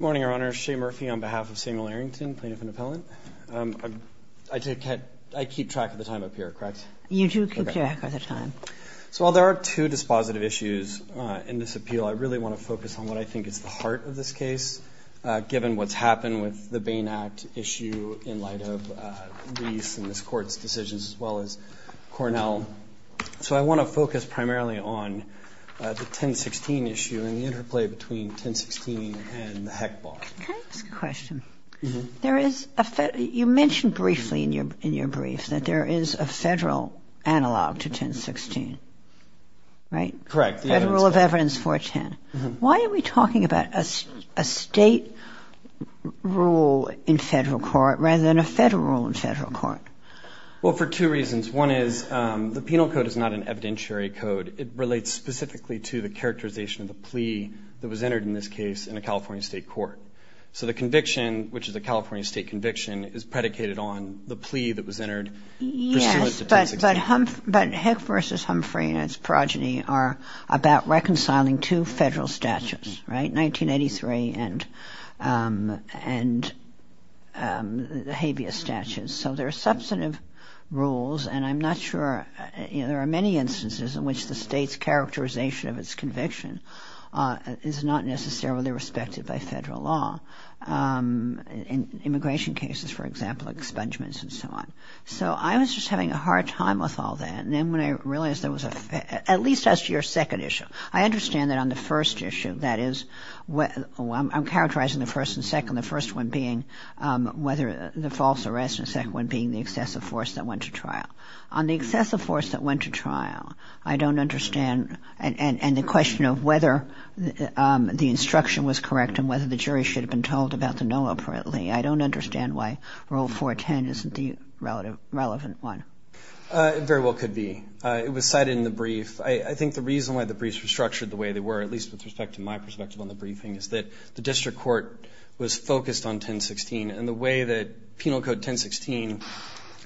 Morning, Your Honor. Shea Murphy on behalf of Samuel Arrington, plaintiff and appellant. I keep track of the time up here, correct? You do keep track of the time. So while there are two dispositive issues in this appeal, I really want to focus on what I think is the heart of this case, given what's happened with the Bain Act issue in light of Reese and this Court's decisions, as well as Cornell. So I want to focus primarily on the 1016 issue and the interplay between 1016 and the heck bar. Can I ask a question? You mentioned briefly in your brief that there is a federal analog to 1016, right? Correct. Federal of Evidence 410. Why are we talking about a state rule in federal court rather than a federal rule in federal court? Well, for two reasons. One is the penal code is not an evidentiary code. It relates specifically to the characterization of the plea that was entered in this case in a California state court. So the conviction, which is a California state conviction, is predicated on the plea that was entered. Yes, but Heck v. Humphrey and its progeny are about reconciling two federal statutes, right? 1983 and the habeas statute. So there are substantive rules, and I'm not sure. There are many instances in which the state's characterization of its conviction is not necessarily respected by federal law. In immigration cases, for example, expungements and so on. So I was just having a hard time with all that. And then when I realized there was a, at least as to your second issue, I understand that on the first issue, that is, I'm characterizing the first and second, the first one being whether the false arrest and the second one being the excessive force that went to trial. On the excessive force that went to trial, I don't understand, and the question of whether the instruction was correct and whether the jury should have been told about the no appropriately, I don't understand why Rule 410 isn't the relevant one. It very well could be. It was cited in the brief. I think the reason why the briefs were structured the way they were, at least with respect to my perspective on the briefing, is that the district court was focused on 1016, and the way that Penal Code 1016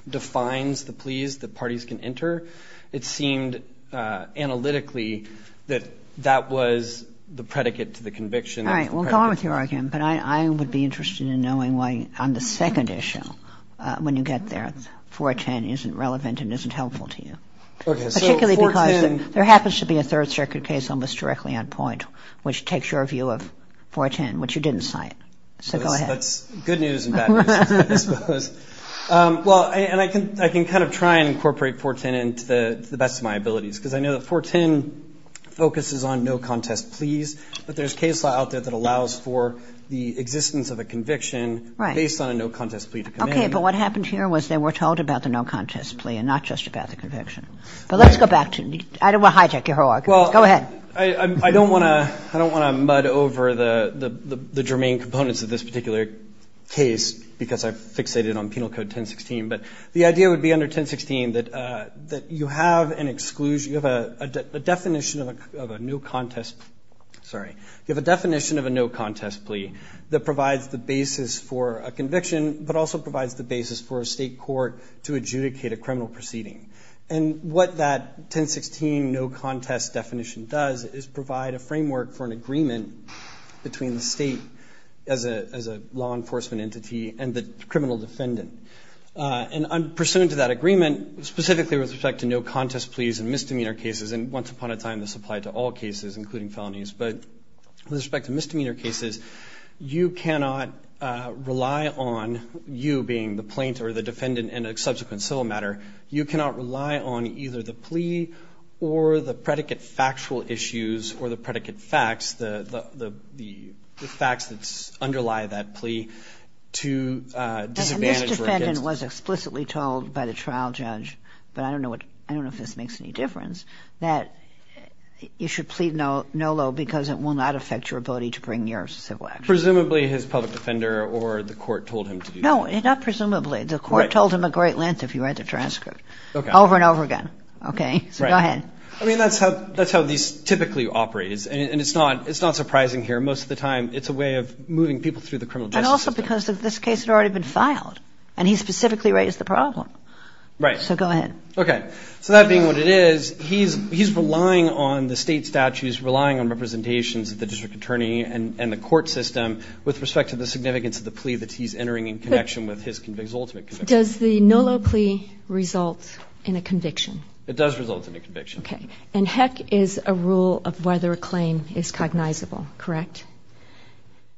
defines the pleas that parties can enter, it seemed analytically that that was the predicate to the conviction. All right. We'll go on with your argument, but I would be interested in knowing why on the second issue, when you get there, 410 isn't relevant and isn't helpful to you. Okay. Particularly because there happens to be a Third Circuit case almost directly on point So go ahead. That's good news and bad news, I suppose. Well, and I can kind of try and incorporate 410 into the best of my abilities, because I know that 410 focuses on no-contest pleas, but there's case law out there that allows for the existence of a conviction based on a no-contest plea to come in. Okay, but what happened here was they were told about the no-contest plea and not just about the conviction. But let's go back to it. I don't want to hijack your whole argument. Go ahead. I don't want to mud over the germane components of this particular case because I've fixated on Penal Code 1016. But the idea would be under 1016 that you have an exclusion, you have a definition of a no-contest plea that provides the basis for a conviction, but also provides the basis for a state court to adjudicate a criminal proceeding. And what that 1016 no-contest definition does is provide a framework for an agreement between the state as a law enforcement entity and the criminal defendant. And pursuant to that agreement, specifically with respect to no-contest pleas and misdemeanor cases, and once upon a time this applied to all cases, including felonies, but with respect to misdemeanor cases, you cannot rely on you being the plaintiff or the defendant in a subsequent civil matter. You cannot rely on either the plea or the predicate factual issues or the predicate facts, the facts that underlie that plea, to disadvantage. And this defendant was explicitly told by the trial judge, but I don't know if this makes any difference, that you should plead no-lo because it will not affect your ability to bring your civil action. Presumably his public defender or the court told him to do that. No, not presumably. The court told him a great length if you read the transcript. Okay. Over and over again. Okay. So go ahead. I mean, that's how these typically operate, and it's not surprising here. Most of the time it's a way of moving people through the criminal justice system. And also because this case had already been filed, and he specifically raised the problem. Right. So go ahead. Okay. So that being what it is, he's relying on the state statutes, relying on representations of the district attorney and the court system with respect to the significance of the plea that he's entering in connection with his ultimate conviction. Does the no-lo plea result in a conviction? It does result in a conviction. Okay. And heck is a rule of whether a claim is cognizable, correct?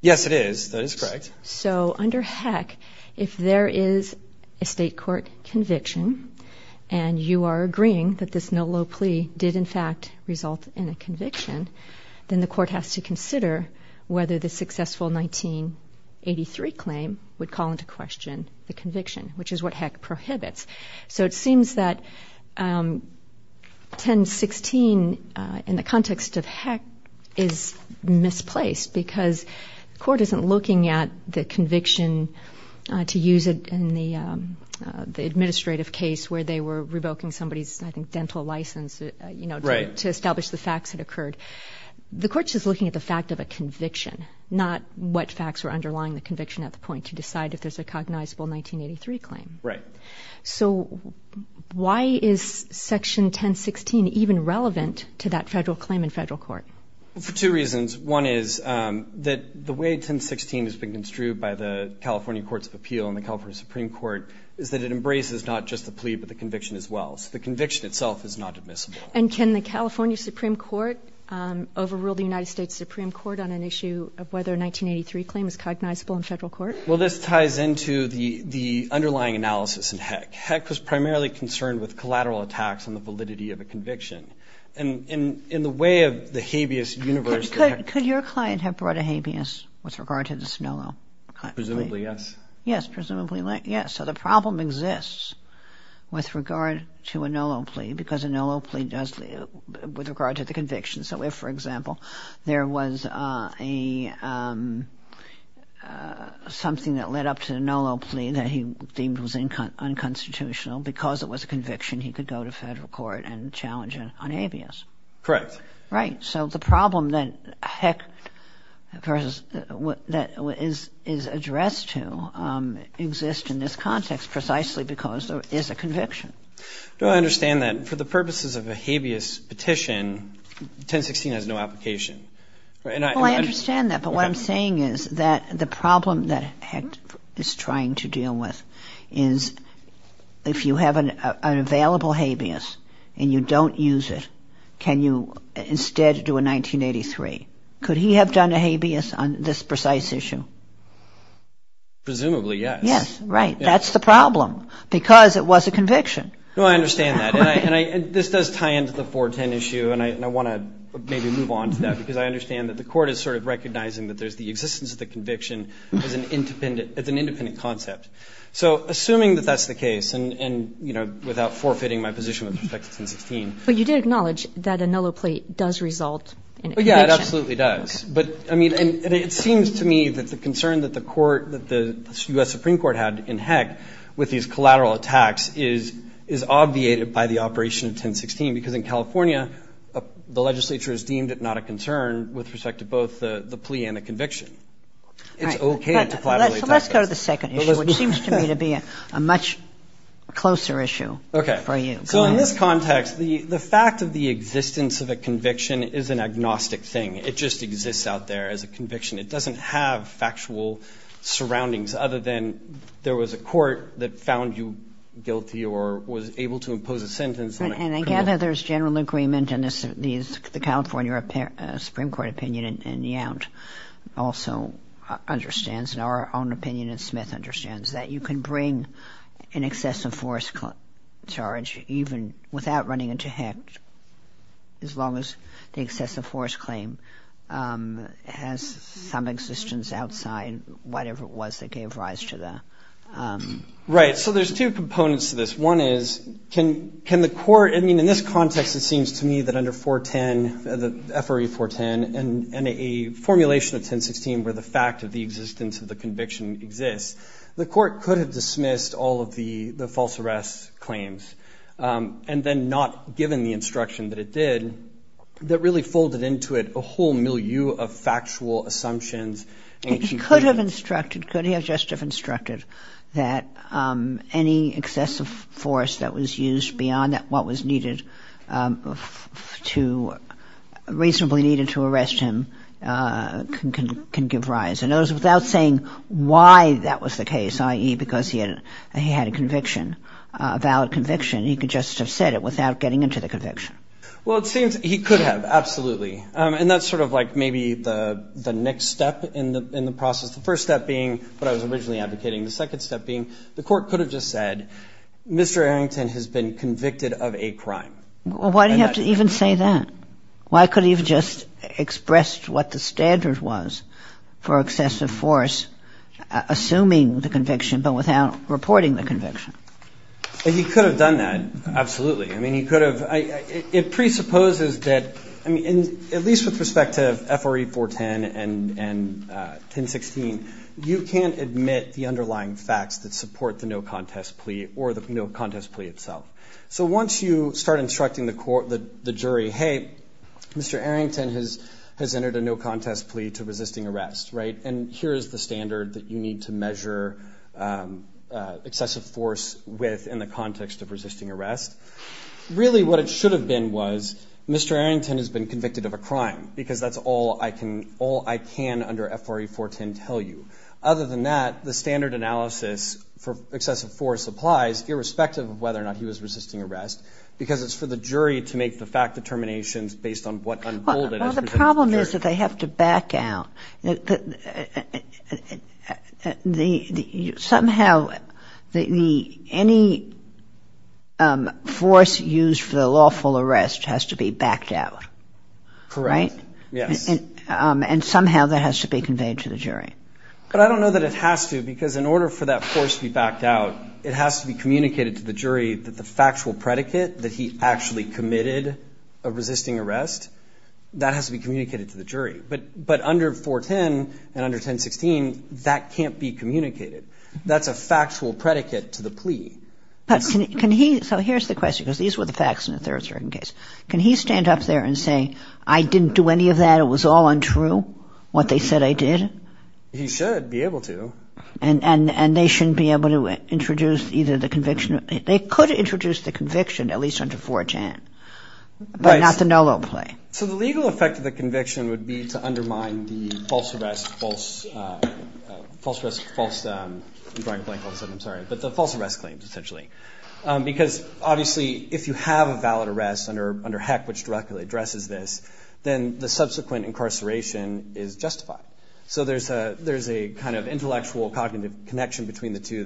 Yes, it is. That is correct. So under heck, if there is a state court conviction, and you are agreeing that this no-lo plea did, in fact, result in a conviction, then the court has to consider whether the successful 1983 claim would call into question the conviction, which is what heck prohibits. So it seems that 1016 in the context of heck is misplaced because the court isn't looking at the conviction to use it in the administrative case where they were revoking somebody's, I think, dental license to establish the facts that occurred. The court's just looking at the fact of a conviction, not what facts were underlying the conviction at the point to decide if there's a cognizable 1983 claim. Right. So why is Section 1016 even relevant to that federal claim in federal court? For two reasons. One is that the way 1016 has been construed by the California Courts of Appeal and the California Supreme Court is that it embraces not just the plea but the conviction as well. So the conviction itself is not admissible. And can the California Supreme Court overrule the United States Supreme Court on an issue of whether a 1983 claim is cognizable in federal court? Well, this ties into the underlying analysis in heck. Heck was primarily concerned with collateral attacks on the validity of a conviction. And in the way of the habeas universe of heck. Could your client have brought a habeas with regard to this no-lo plea? Presumably, yes. Yes, presumably, yes. So the problem exists with regard to a no-lo plea because a no-lo plea does with regard to the conviction. So if, for example, there was something that led up to a no-lo plea that he deemed was unconstitutional, because it was a conviction, he could go to federal court and challenge it on habeas. Correct. Right. So the problem that heck is addressed to exists in this context precisely because there is a conviction. I don't understand that. For the purposes of a habeas petition, 1016 has no application. Well, I understand that. But what I'm saying is that the problem that heck is trying to deal with is if you have an available habeas and you don't use it, can you instead do a 1983? Could he have done a habeas on this precise issue? Presumably, yes. Yes, right. That's the problem because it was a conviction. No, I understand that. And this does tie into the 410 issue, and I want to maybe move on to that because I understand that the court is sort of recognizing that there's the existence of the conviction as an independent concept. So assuming that that's the case, and, you know, without forfeiting my position with respect to 1016. But you did acknowledge that a nulloplate does result in a conviction. Yeah, it absolutely does. But, I mean, it seems to me that the concern that the court, that the U.S. Supreme Court had in heck with these collateral attacks is obviated by the operation of 1016 because in California, the legislature has deemed it not a concern with respect to both the plea and the conviction. It's okay to collaterally attack this. Well, let's go to the second issue, which seems to me to be a much closer issue for you. Okay. So in this context, the fact of the existence of a conviction is an agnostic thing. It just exists out there as a conviction. It doesn't have factual surroundings other than there was a court that found you guilty or was able to impose a sentence on a criminal. And I gather there's general agreement in the California Supreme Court opinion, also understands, in our own opinion and Smith understands, that you can bring an excessive force charge even without running into heck, as long as the excessive force claim has some existence outside whatever it was that gave rise to the. Right. So there's two components to this. One is, can the court, I mean, in this context, it seems to me that under 410, the FRA 410 and a formulation of 1016 where the fact of the existence of the conviction exists, the court could have dismissed all of the false arrest claims and then not given the instruction that it did, that really folded into it a whole milieu of factual assumptions. It could have instructed, could have just have instructed, that any excessive force that was used beyond what was needed to, reasonably needed to arrest him can give rise. And it was without saying why that was the case, i.e., because he had a conviction, a valid conviction, he could just have said it without getting into the conviction. Well, it seems he could have, absolutely. And that's sort of like maybe the next step in the process. The first step being what I was originally advocating. The second step being the court could have just said, Mr. Arrington has been convicted of a crime. Well, why do you have to even say that? Why could he have just expressed what the standard was for excessive force, assuming the conviction but without reporting the conviction? He could have done that, absolutely. I mean, he could have. It presupposes that, at least with respect to FRE 410 and 1016, you can't admit the underlying facts that support the no-contest plea or the no-contest plea itself. So once you start instructing the jury, hey, Mr. Arrington has entered a no-contest plea to resisting arrest, right, and here is the standard that you need to measure excessive force with in the context of resisting arrest. Really what it should have been was Mr. Arrington has been convicted of a crime because that's all I can under FRE 410 tell you. Other than that, the standard analysis for excessive force applies, irrespective of whether or not he was resisting arrest, because it's for the jury to make the fact determinations based on what unfolded as presented to the jury. Well, the problem is that they have to back out. Somehow any force used for the lawful arrest has to be backed out, right? Correct. Yes. And somehow that has to be conveyed to the jury. But I don't know that it has to, because in order for that force to be backed out, it has to be communicated to the jury that the factual predicate that he actually committed a resisting arrest, that has to be communicated to the jury. Right. But under 410 and under 1016, that can't be communicated. That's a factual predicate to the plea. So here's the question, because these were the facts in a third-degree case. Can he stand up there and say, I didn't do any of that, it was all untrue, what they said I did? He should be able to. And they shouldn't be able to introduce either the conviction. They could introduce the conviction, at least under 410, but not the no-law play. So the legal effect of the conviction would be to undermine the false arrest, false arrest claims, essentially. Because, obviously, if you have a valid arrest under HEC, which directly addresses this, then the subsequent incarceration is justified. So there's a kind of intellectual, cognitive connection between the two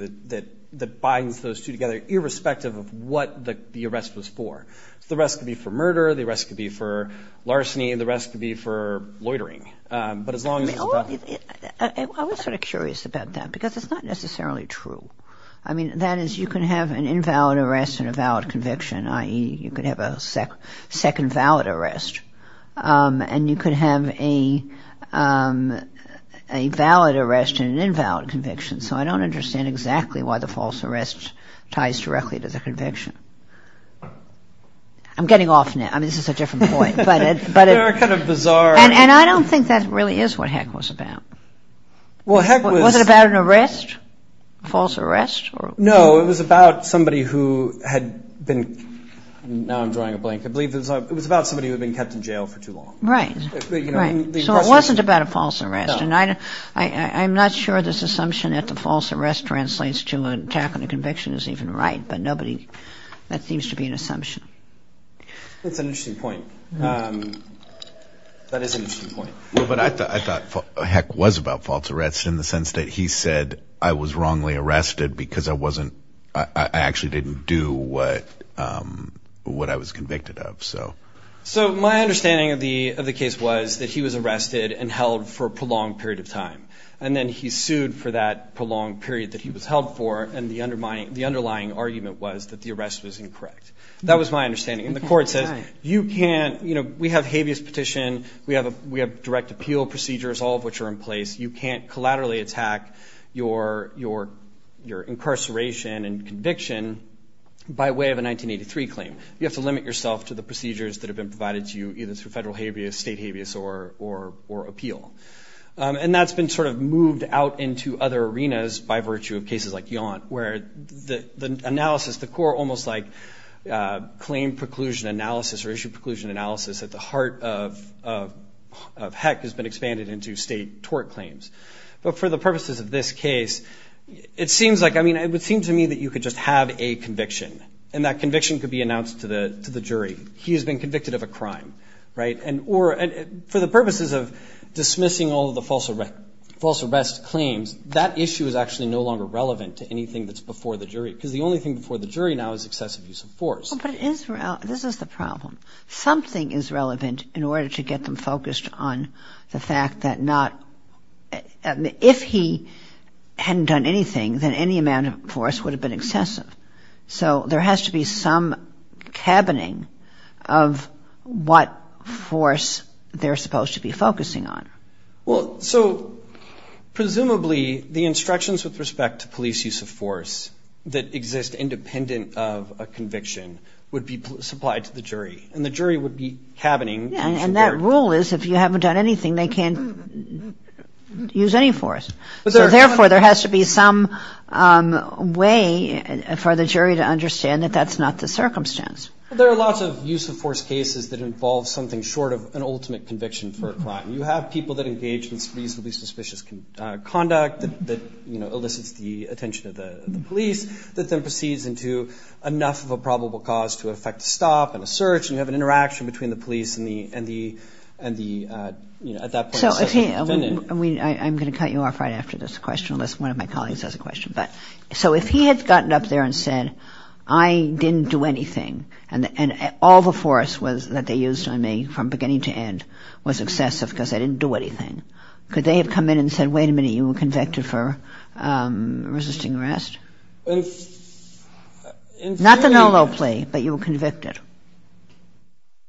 that binds those two together, irrespective of what the arrest was for. The arrest could be for murder, the arrest could be for larceny, and the arrest could be for loitering. But as long as it's about the... I was sort of curious about that, because it's not necessarily true. I mean, that is, you can have an invalid arrest and a valid conviction, i.e., you could have a second valid arrest, and you could have a valid arrest and an invalid conviction. So I don't understand exactly why the false arrest ties directly to the conviction. I'm getting off now. I mean, this is a different point. And I don't think that really is what HEC was about. Was it about an arrest, a false arrest? No, it was about somebody who had been... Now I'm drawing a blank. I believe it was about somebody who had been kept in jail for too long. Right. So it wasn't about a false arrest. I'm not sure this assumption that the false arrest translates to an attack on a conviction is even right, but nobody...that seems to be an assumption. It's an interesting point. That is an interesting point. But I thought HEC was about false arrests in the sense that he said, I was wrongly arrested because I actually didn't do what I was convicted of. So my understanding of the case was that he was arrested and held for a prolonged period of time, and then he sued for that prolonged period that he was held for, and the underlying argument was that the arrest was incorrect. That was my understanding. And the court says, you can't... We have habeas petition, we have direct appeal procedures, all of which are in place. You can't collaterally attack your incarceration and conviction by way of a 1983 claim. You have to limit yourself to the procedures that have been provided to you, either through federal habeas, state habeas, or appeal. And that's been sort of moved out into other arenas by virtue of cases like Yaunt, where the analysis, the core almost like claim preclusion analysis or issue preclusion analysis at the heart of HEC has been expanded into state tort claims. But for the purposes of this case, it seems like... I mean, it would seem to me that you could just have a conviction, and that conviction could be announced to the jury. He has been convicted of a crime, right? And for the purposes of dismissing all of the false arrest claims, that issue is actually no longer relevant to anything that's before the jury because the only thing before the jury now is excessive use of force. But this is the problem. Something is relevant in order to get them focused on the fact that not... If he hadn't done anything, then any amount of force would have been excessive. So there has to be some cabining of what force they're supposed to be focusing on. Well, so presumably the instructions with respect to police use of force that exist independent of a conviction would be supplied to the jury, and the jury would be cabining... And that rule is if you haven't done anything, they can't use any force. So therefore there has to be some way for the jury to understand that that's not the circumstance. There are lots of use of force cases that involve something short of an ultimate conviction for a crime. You have people that engage in reasonably suspicious conduct that elicits the attention of the police that then proceeds into enough of a probable cause to effect a stop and a search, and you have an interaction between the police and the... I'm going to cut you off right after this question, unless one of my colleagues has a question. So if he had gotten up there and said, I didn't do anything, and all the force that they used on me from beginning to end was excessive because I didn't do anything, could they have come in and said, wait a minute, you were convicted for resisting arrest? Not the NOLO plea, but you were convicted.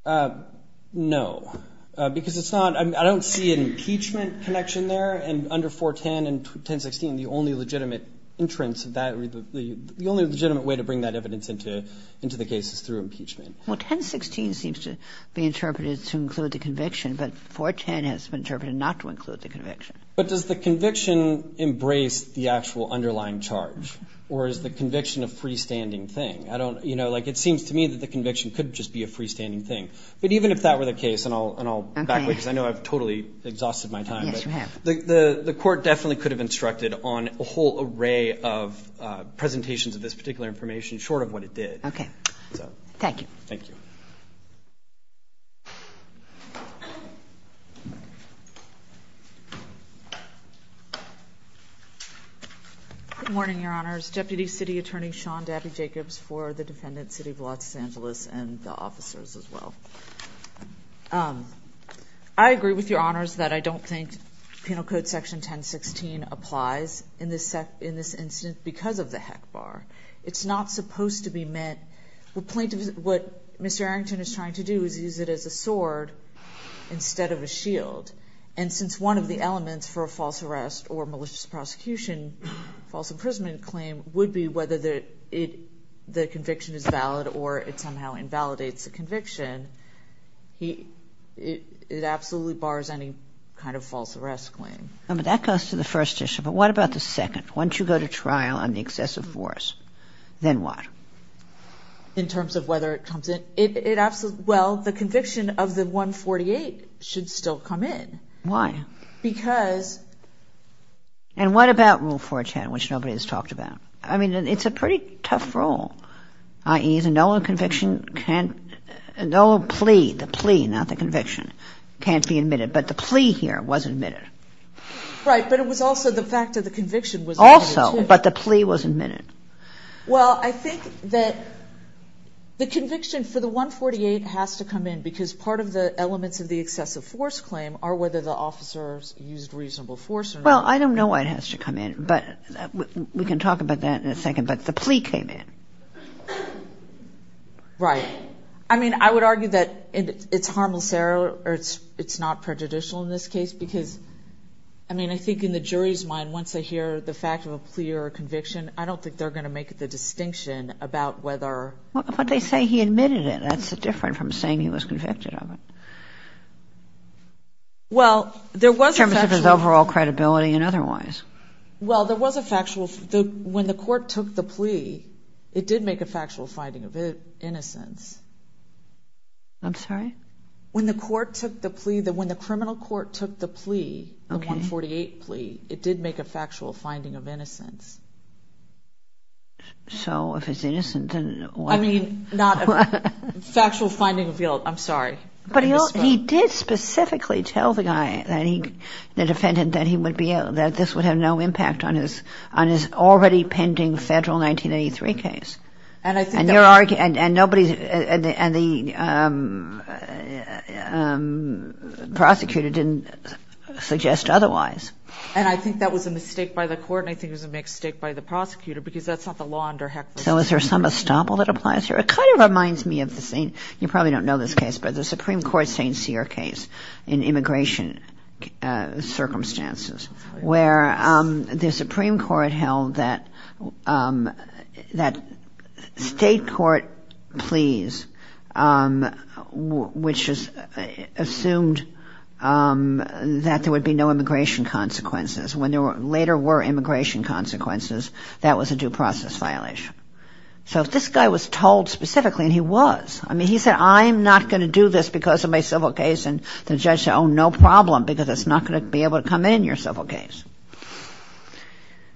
No, because it's not... I don't see an impeachment connection there, and under 410 and 1016, the only legitimate entrance of that... The only legitimate way to bring that evidence into the case is through impeachment. Well, 1016 seems to be interpreted to include the conviction, but 410 has been interpreted not to include the conviction. But does the conviction embrace the actual underlying charge, or is the conviction a freestanding thing? It seems to me that the conviction could just be a freestanding thing. But even if that were the case, and I'll back away because I know I've totally exhausted my time. Yes, you have. The court definitely could have instructed on a whole array of presentations of this particular information short of what it did. Okay. Thank you. Thank you. Good morning, Your Honors. Deputy City Attorney Sean Dabney-Jacobs for the defendant, City of Los Angeles, and the officers as well. I agree with Your Honors that I don't think penal code section 1016 applies in this incident because of the heck bar. It's not supposed to be met. What Mr. Arrington is trying to do is use it as a sword instead of a shield. And since one of the elements for a false arrest or malicious prosecution, false imprisonment claim, would be whether the conviction is valid or it somehow invalidates the conviction, it absolutely bars any kind of false arrest claim. That goes to the first issue. But what about the second? Once you go to trial on the excessive force, then what? In terms of whether it comes in? Well, the conviction of the 148 should still come in. Why? Because. And what about Rule 410, which nobody has talked about? I mean, it's a pretty tough rule, i.e. no conviction can't, no plea, the plea, not the conviction, can't be admitted. But the plea here was admitted. Right. But it was also the fact that the conviction was admitted, too. Also. But the plea was admitted. Well, I think that the conviction for the 148 has to come in because part of the elements of the excessive force claim are whether the officers used reasonable force or not. Well, I don't know why it has to come in, but we can talk about that in a second. But the plea came in. Right. I mean, I would argue that it's harmless error or it's not prejudicial in this case because, I mean, I think in the jury's mind, once they hear the fact of a plea or a conviction, I don't think they're going to make the distinction about whether. But they say he admitted it. That's different from saying he was convicted of it. Well, there was a factual. In terms of his overall credibility and otherwise. Well, there was a factual. When the court took the plea, it did make a factual finding of innocence. I'm sorry? When the court took the plea, when the criminal court took the plea, the 148 plea, it did make a factual finding of innocence. So if it's innocent, then what? I mean, not a factual finding of guilt. I'm sorry. But he did specifically tell the guy, the defendant, that this would have no impact on his already pending federal 1983 case. And the prosecutor didn't suggest otherwise. And I think that was a mistake by the court, and I think it was a mistake by the prosecutor because that's not the law under HECLA. So is there some estoppel that applies here? It kind of reminds me of the scene. You probably don't know this case, but the Supreme Court St. Cyr case in immigration circumstances, where the Supreme Court held that state court pleas, which assumed that there would be no immigration consequences. When there later were immigration consequences, that was a due process violation. So if this guy was told specifically, and he was, I mean, he said, I'm not going to do this because of my civil case. And the judge said, oh, no problem, because it's not going to be able to come in, your civil case.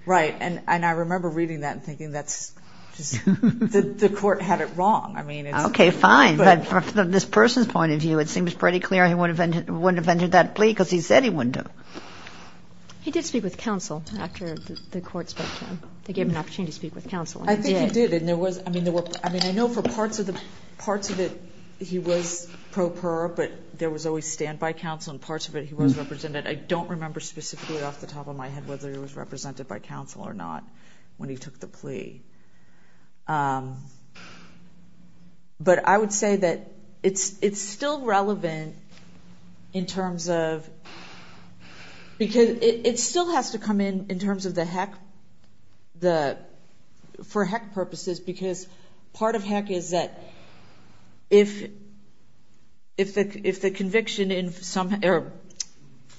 Right. And I remember reading that and thinking that's just the court had it wrong. Okay, fine. But from this person's point of view, it seems pretty clear he wouldn't have entered that plea because he said he wouldn't have. He did speak with counsel after the court spoke to him. They gave him an opportunity to speak with counsel. I think he did. I mean, I know for parts of it he was pro per, but there was always standby counsel and parts of it he was represented. I don't remember specifically off the top of my head whether he was represented by counsel or not when he took the plea. But I would say that it's still relevant in terms of, because it still has to come in in terms of the heck, for heck purposes, because part of heck is that if the conviction in some, or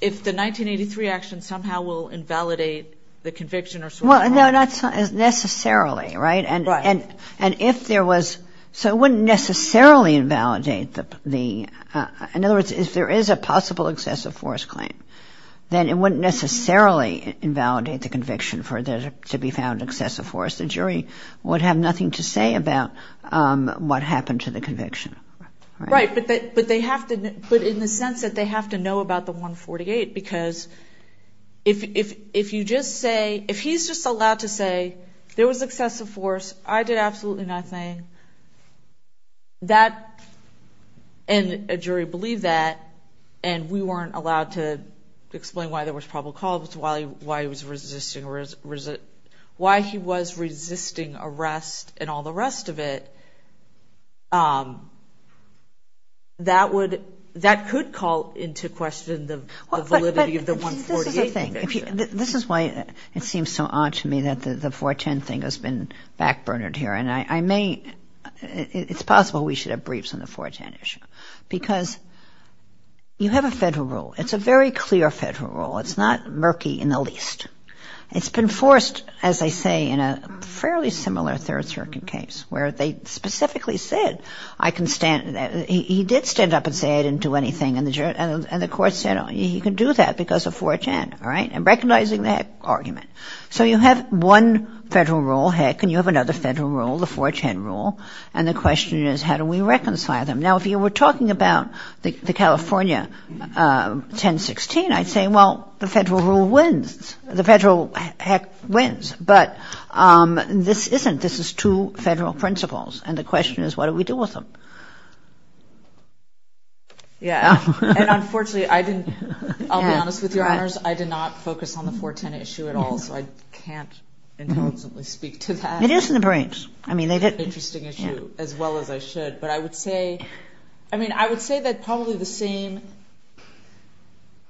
if the 1983 action somehow will invalidate the conviction or so forth. Well, no, not necessarily, right? Right. And if there was, so it wouldn't necessarily invalidate the, in other words, if there is a possible excessive force claim, then it wouldn't necessarily invalidate the conviction for there to be found excessive force. The jury would have nothing to say about what happened to the conviction. Right. But they have to, but in the sense that they have to know about the 148, because if you just say, if he's just allowed to say there was excessive force, I did absolutely nothing. That, and a jury believed that, and we weren't allowed to explain why there was probable cause, why he was resisting arrest and all the rest of it. That would, that could call into question the validity of the 148 conviction. This is why it seems so odd to me that the 410 thing has been back-burnered here, and I may, it's possible we should have briefs on the 410 issue, because you have a federal rule. It's a very clear federal rule. It's not murky in the least. It's been forced, as I say, in a fairly similar third-circuit case, where they specifically said I can stand, he did stand up and say I didn't do anything, and the court said he can do that because of 410, and recognizing that argument. So you have one federal rule, heck, and you have another federal rule, the 410 rule, and the question is how do we reconcile them? Now, if you were talking about the California 1016, I'd say, well, the federal rule wins. The federal, heck, wins, but this isn't. This is two federal principles, and the question is what do we do with them? Yeah, and unfortunately I didn't, I'll be honest with you, Your Honors, I did not focus on the 410 issue at all, so I can't intelligently speak to that. It is in the briefs. It's an interesting issue, as well as I should, but I would say that probably the same,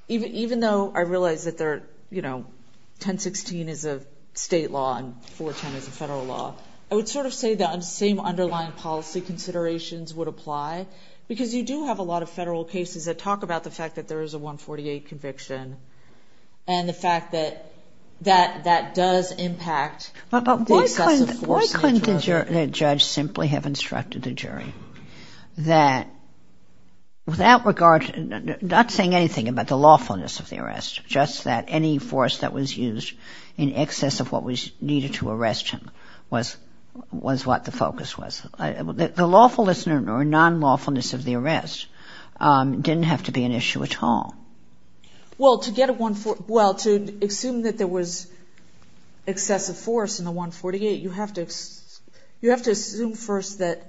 even though I realize that 1016 is a state law and 410 is a federal law, I would sort of say the same underlying policy considerations would apply, because you do have a lot of federal cases that talk about the fact that there is a 148 conviction and the fact that that does impact the excessive force. But why couldn't the judge simply have instructed the jury that without regard, not saying anything about the lawfulness of the arrest, just that any force that was used in excess of what was needed to arrest him was what the focus was? The lawfulness or non-lawfulness of the arrest didn't have to be an issue at all. Well, to get a 148, well, to assume that there was excessive force in the 148, you have to assume first that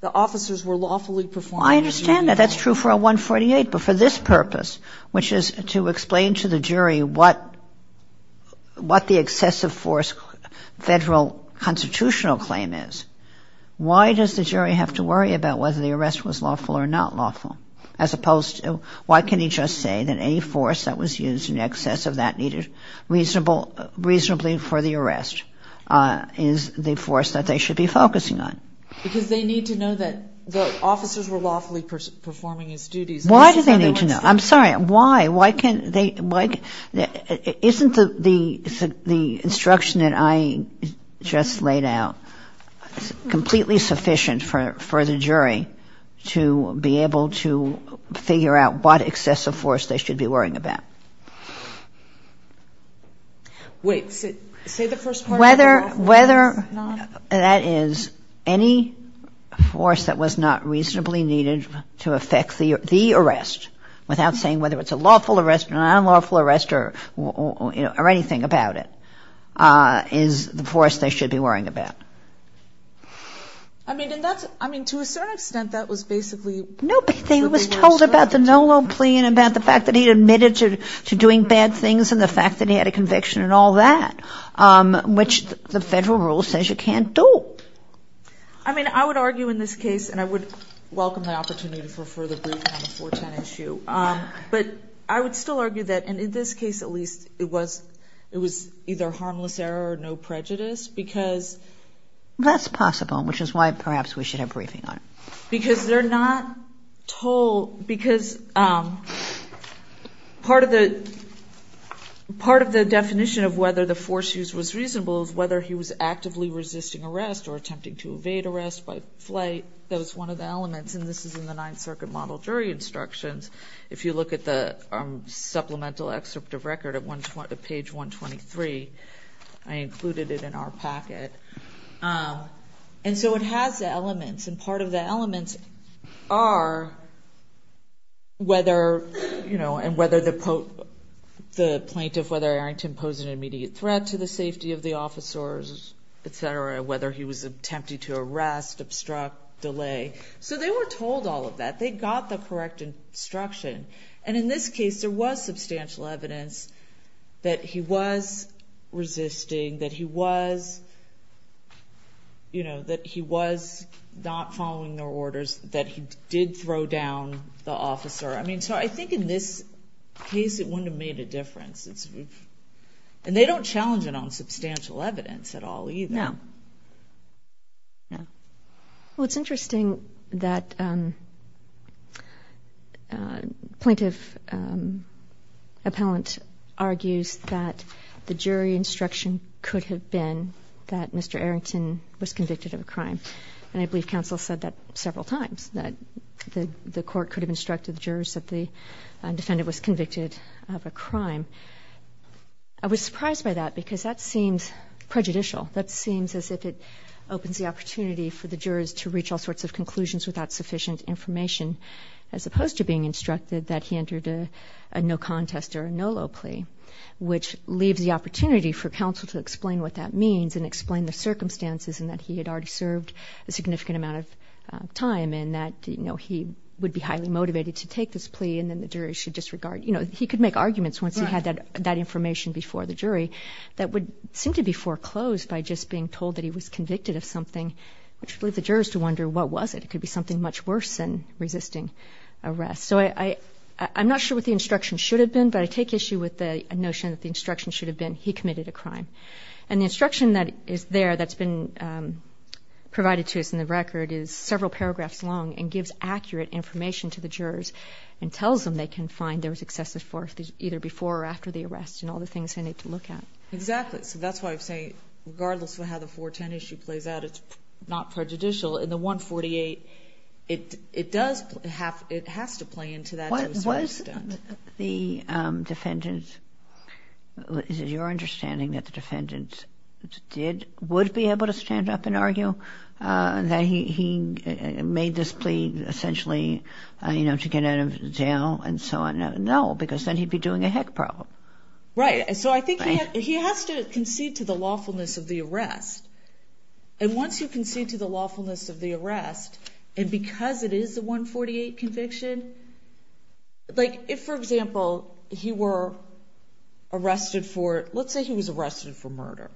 the officers were lawfully performing. I understand that. That's true for a 148, but for this purpose, which is to explain to the jury what the excessive force federal constitutional claim is, why does the jury have to worry about whether the arrest was lawful or not lawful, as opposed to why can he just say that any force that was used in excess of that needed reasonably for the arrest is the force that they should be focusing on? Because they need to know that the officers were lawfully performing his duties. Why do they need to know? I'm sorry, why? Isn't the instruction that I just laid out completely sufficient for the jury to be able to figure out what excessive force they should be worrying about? Wait. Say the first part again. Whether that is any force that was not reasonably needed to affect the arrest, without saying whether it's a lawful arrest or an unlawful arrest or anything about it, is the force they should be worrying about. I mean, to a certain extent, that was basically... Nobody was told about the Nolo plea and about the fact that he admitted to doing bad things and the fact that he had a conviction and all that, which the federal rule says you can't do. I mean, I would argue in this case, and I would welcome the opportunity for a further brief on the 410 issue, but I would still argue that, and in this case at least, it was either harmless error or no prejudice because... That's possible, which is why perhaps we should have a briefing on it. Because they're not told... Part of the definition of whether the force used was reasonable was whether he was actively resisting arrest or attempting to evade arrest by flight. That was one of the elements, and this is in the Ninth Circuit Model Jury Instructions. If you look at the supplemental excerpt of record at page 123, I included it in our packet. And so it has elements, and part of the elements are whether, you know, and whether the plaintiff, whether Arrington posed an immediate threat to the safety of the officers, et cetera, whether he was attempting to arrest, obstruct, delay. So they were told all of that. They got the correct instruction. And in this case, there was substantial evidence that he was resisting, that he was, you know, that he was not following their orders, that he did throw down the officer. I mean, so I think in this case it wouldn't have made a difference. And they don't challenge it on substantial evidence at all either. No. Well, it's interesting that plaintiff appellant argues that the jury instruction could have been that Mr. Arrington was convicted of a crime. And I believe counsel said that several times, that the court could have instructed the jurors that the defendant was convicted of a crime. I was surprised by that because that seems prejudicial. That seems as if it opens the opportunity for the jurors to reach all sorts of conclusions without sufficient information, as opposed to being instructed that he entered a no contest or a no low plea, which leaves the opportunity for counsel to explain what that means and explain the circumstances in that he had already served a significant amount of time and that, you know, he would be highly motivated to take this plea and then the jury should disregard. You know, he could make arguments once he had that information before the jury that would seem to be foreclosed by just being told that he was convicted of something, which would leave the jurors to wonder what was it. It could be something much worse than resisting arrest. So I'm not sure what the instruction should have been, but I take issue with the notion that the instruction should have been he committed a crime. And the instruction that is there that's been provided to us in the record is several paragraphs long and gives accurate information to the jurors and tells them they can find there was excessive force either before or after the arrest and all the things they need to look at. Exactly. So that's why I'm saying regardless of how the 410 issue plays out, it's not prejudicial. In the 148, it does have to play into that to a certain extent. Was the defendant, is it your understanding that the defendant did, would be able to stand up and argue that he made this plea essentially, you know, to get out of jail and so on? No, because then he'd be doing a heck problem. Right. So I think he has to concede to the lawfulness of the arrest. And once you concede to the lawfulness of the arrest, and because it is the 148 conviction, like if, for example, he were arrested for, let's say he was arrested for murder,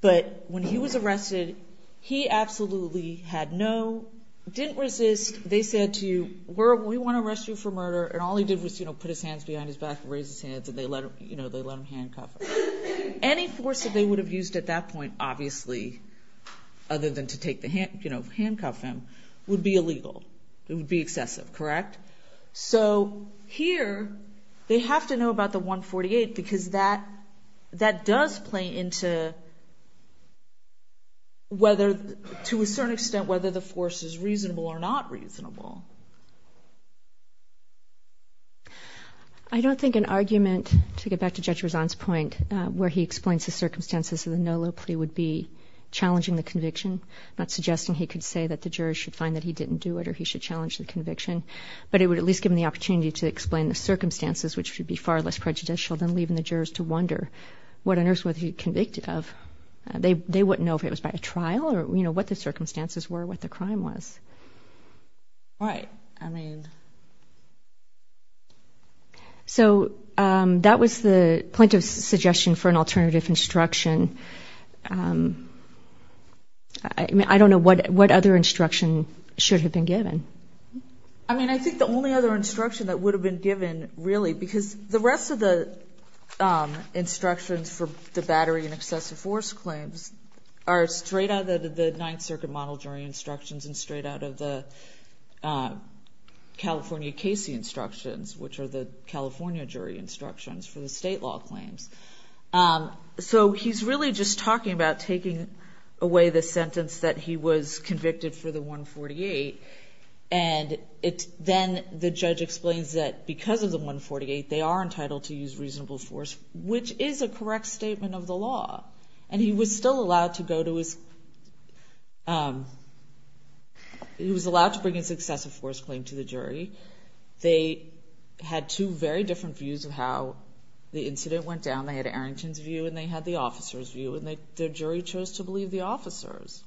but when he was arrested, he absolutely had no, didn't resist, they said to you, we want to arrest you for murder, and all he did was put his hands behind his back and raise his hands and they let him handcuff him. Any force that they would have used at that point, obviously, other than to take the hand, you know, handcuff him, would be illegal. It would be excessive, correct? So here, they have to know about the 148 because that does play into whether, to a certain extent, whether the force is reasonable or not reasonable. I don't think an argument, to get back to Judge Rezan's point, where he explains the circumstances of the Nolo plea would be challenging the conviction, not suggesting he could say that the jurors should find that he didn't do it or he should challenge the conviction, but it would at least give him the opportunity to explain the circumstances, which would be far less prejudicial than leaving the jurors to wonder what on earth was he convicted of. They wouldn't know if it was by a trial or, you know, what the circumstances were, what the crime was. Right, I mean. So that was the plaintiff's suggestion for an alternative instruction. I mean, I don't know what other instruction should have been given. I mean, I think the only other instruction that would have been given, really, because the rest of the instructions for the battery and excessive force claims are straight out of the Ninth Circuit model jury instructions and straight out of the California Casey instructions, which are the California jury instructions for the state law claims. So he's really just talking about taking away the sentence that he was convicted for the 148, and then the judge explains that because of the 148 they are entitled to use reasonable force, which is a correct statement of the law. And he was still allowed to go to his ‑‑ he was allowed to bring his excessive force claim to the jury. They had two very different views of how the incident went down. They had Arrington's view and they had the officer's view, and the jury chose to believe the officer's.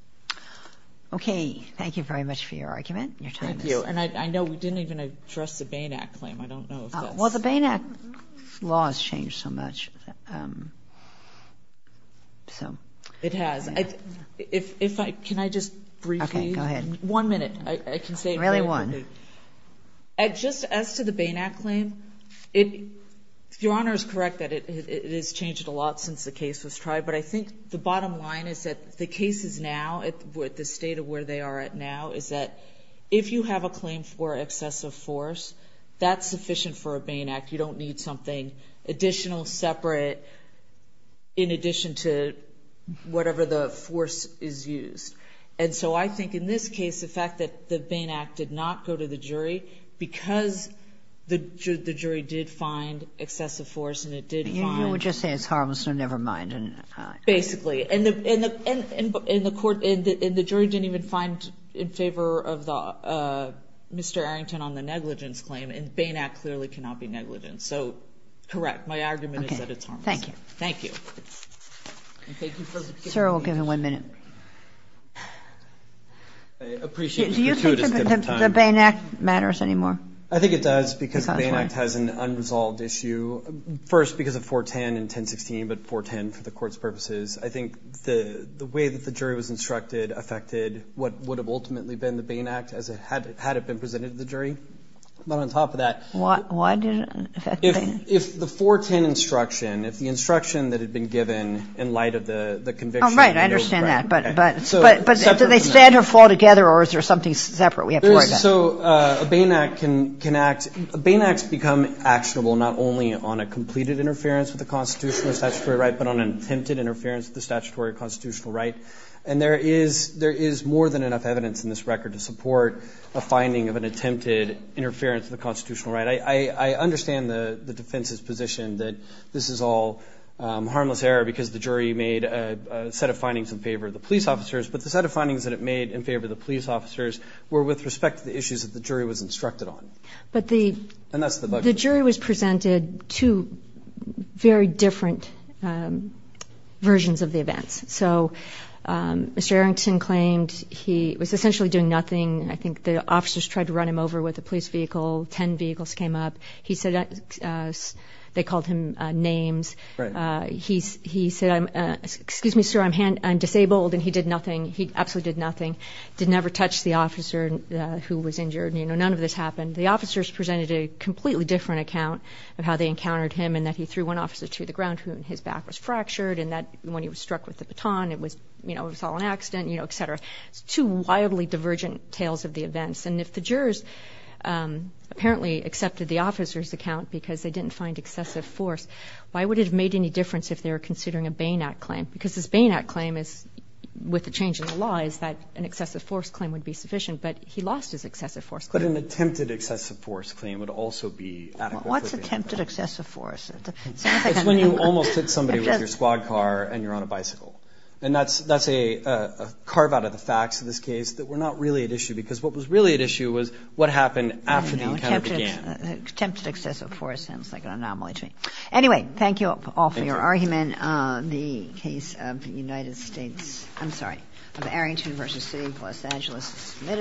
Okay, thank you very much for your argument and your time. Thank you. And I know we didn't even address the Bain Act claim. I don't know if that's ‑‑ Well, the Bain Act law has changed so much. It has. Can I just briefly? Okay, go ahead. One minute. I can say it very quickly. Really, one. Just as to the Bain Act claim, if Your Honor is correct that it has changed a lot since the case was tried, but I think the bottom line is that the cases now, the state of where they are at now, is that if you have a claim for excessive force, that's sufficient for a Bain Act. You don't need something additional, separate, in addition to whatever the force is used. And so I think in this case, the fact that the Bain Act did not go to the jury, because the jury did find excessive force and it did find ‑‑ You would just say it's harmless, so never mind. Basically. And the jury didn't even find in favor of Mr. Arrington on the negligence claim, and the Bain Act clearly cannot be negligent. So, correct. My argument is that it's harmless. Okay. Thank you. Thank you. Sir, we'll give him one minute. Do you think the Bain Act matters anymore? I think it does, because the Bain Act has an unresolved issue. First, because of 410 and 1016, but 410 for the Court's purposes, I think the way that the jury was instructed affected what would have ultimately been the Bain Act, had it been presented to the jury. Why did it affect the Bain Act? If the 410 instruction, if the instruction that had been given in light of the conviction ‑‑ Oh, right. I understand that. But did they stand or fall together, or is there something separate? So, a Bain Act can act ‑‑ Bain Acts become actionable not only on a completed interference with the constitutional or statutory right, but on an attempted interference with the statutory or constitutional right. And there is more than enough evidence in this record to support a finding of an attempted interference with the constitutional right. I understand the defense's position that this is all harmless error because the jury made a set of findings in favor of the police officers, but the set of findings that it made in favor of the police officers were with respect to the issues that the jury was instructed on. And that's the budget. But the jury was presented two very different versions of the events. So, Mr. Arrington claimed he was essentially doing nothing. I think the officers tried to run him over with a police vehicle, 10 vehicles came up. They called him names. He said, excuse me, sir, I'm disabled, and he did nothing. He absolutely did nothing. He never touched the officer who was injured. None of this happened. The officers presented a completely different account of how they encountered him in that he threw one officer to the ground, who in his back was fractured, and when he was struck with the baton, it was all an accident, et cetera. Two wildly divergent tales of the events. And if the jurors apparently accepted the officer's account because they didn't find excessive force, why would it have made any difference if they were considering a Bain Act claim? Because this Bain Act claim is, with the change in the law, is that an excessive force claim would be sufficient. But he lost his excessive force claim. But an attempted excessive force claim would also be adequate. What's attempted excessive force? It's when you almost hit somebody with your squad car and you're on a bicycle. And that's a carve-out of the facts in this case that were not really at issue because what was really at issue was what happened after the encounter began. I don't know. Attempted excessive force sounds like an anomaly to me. Anyway, thank you all for your argument. Thank you. The case of the United States, I'm sorry, of Arrington v. City of Los Angeles is submitted.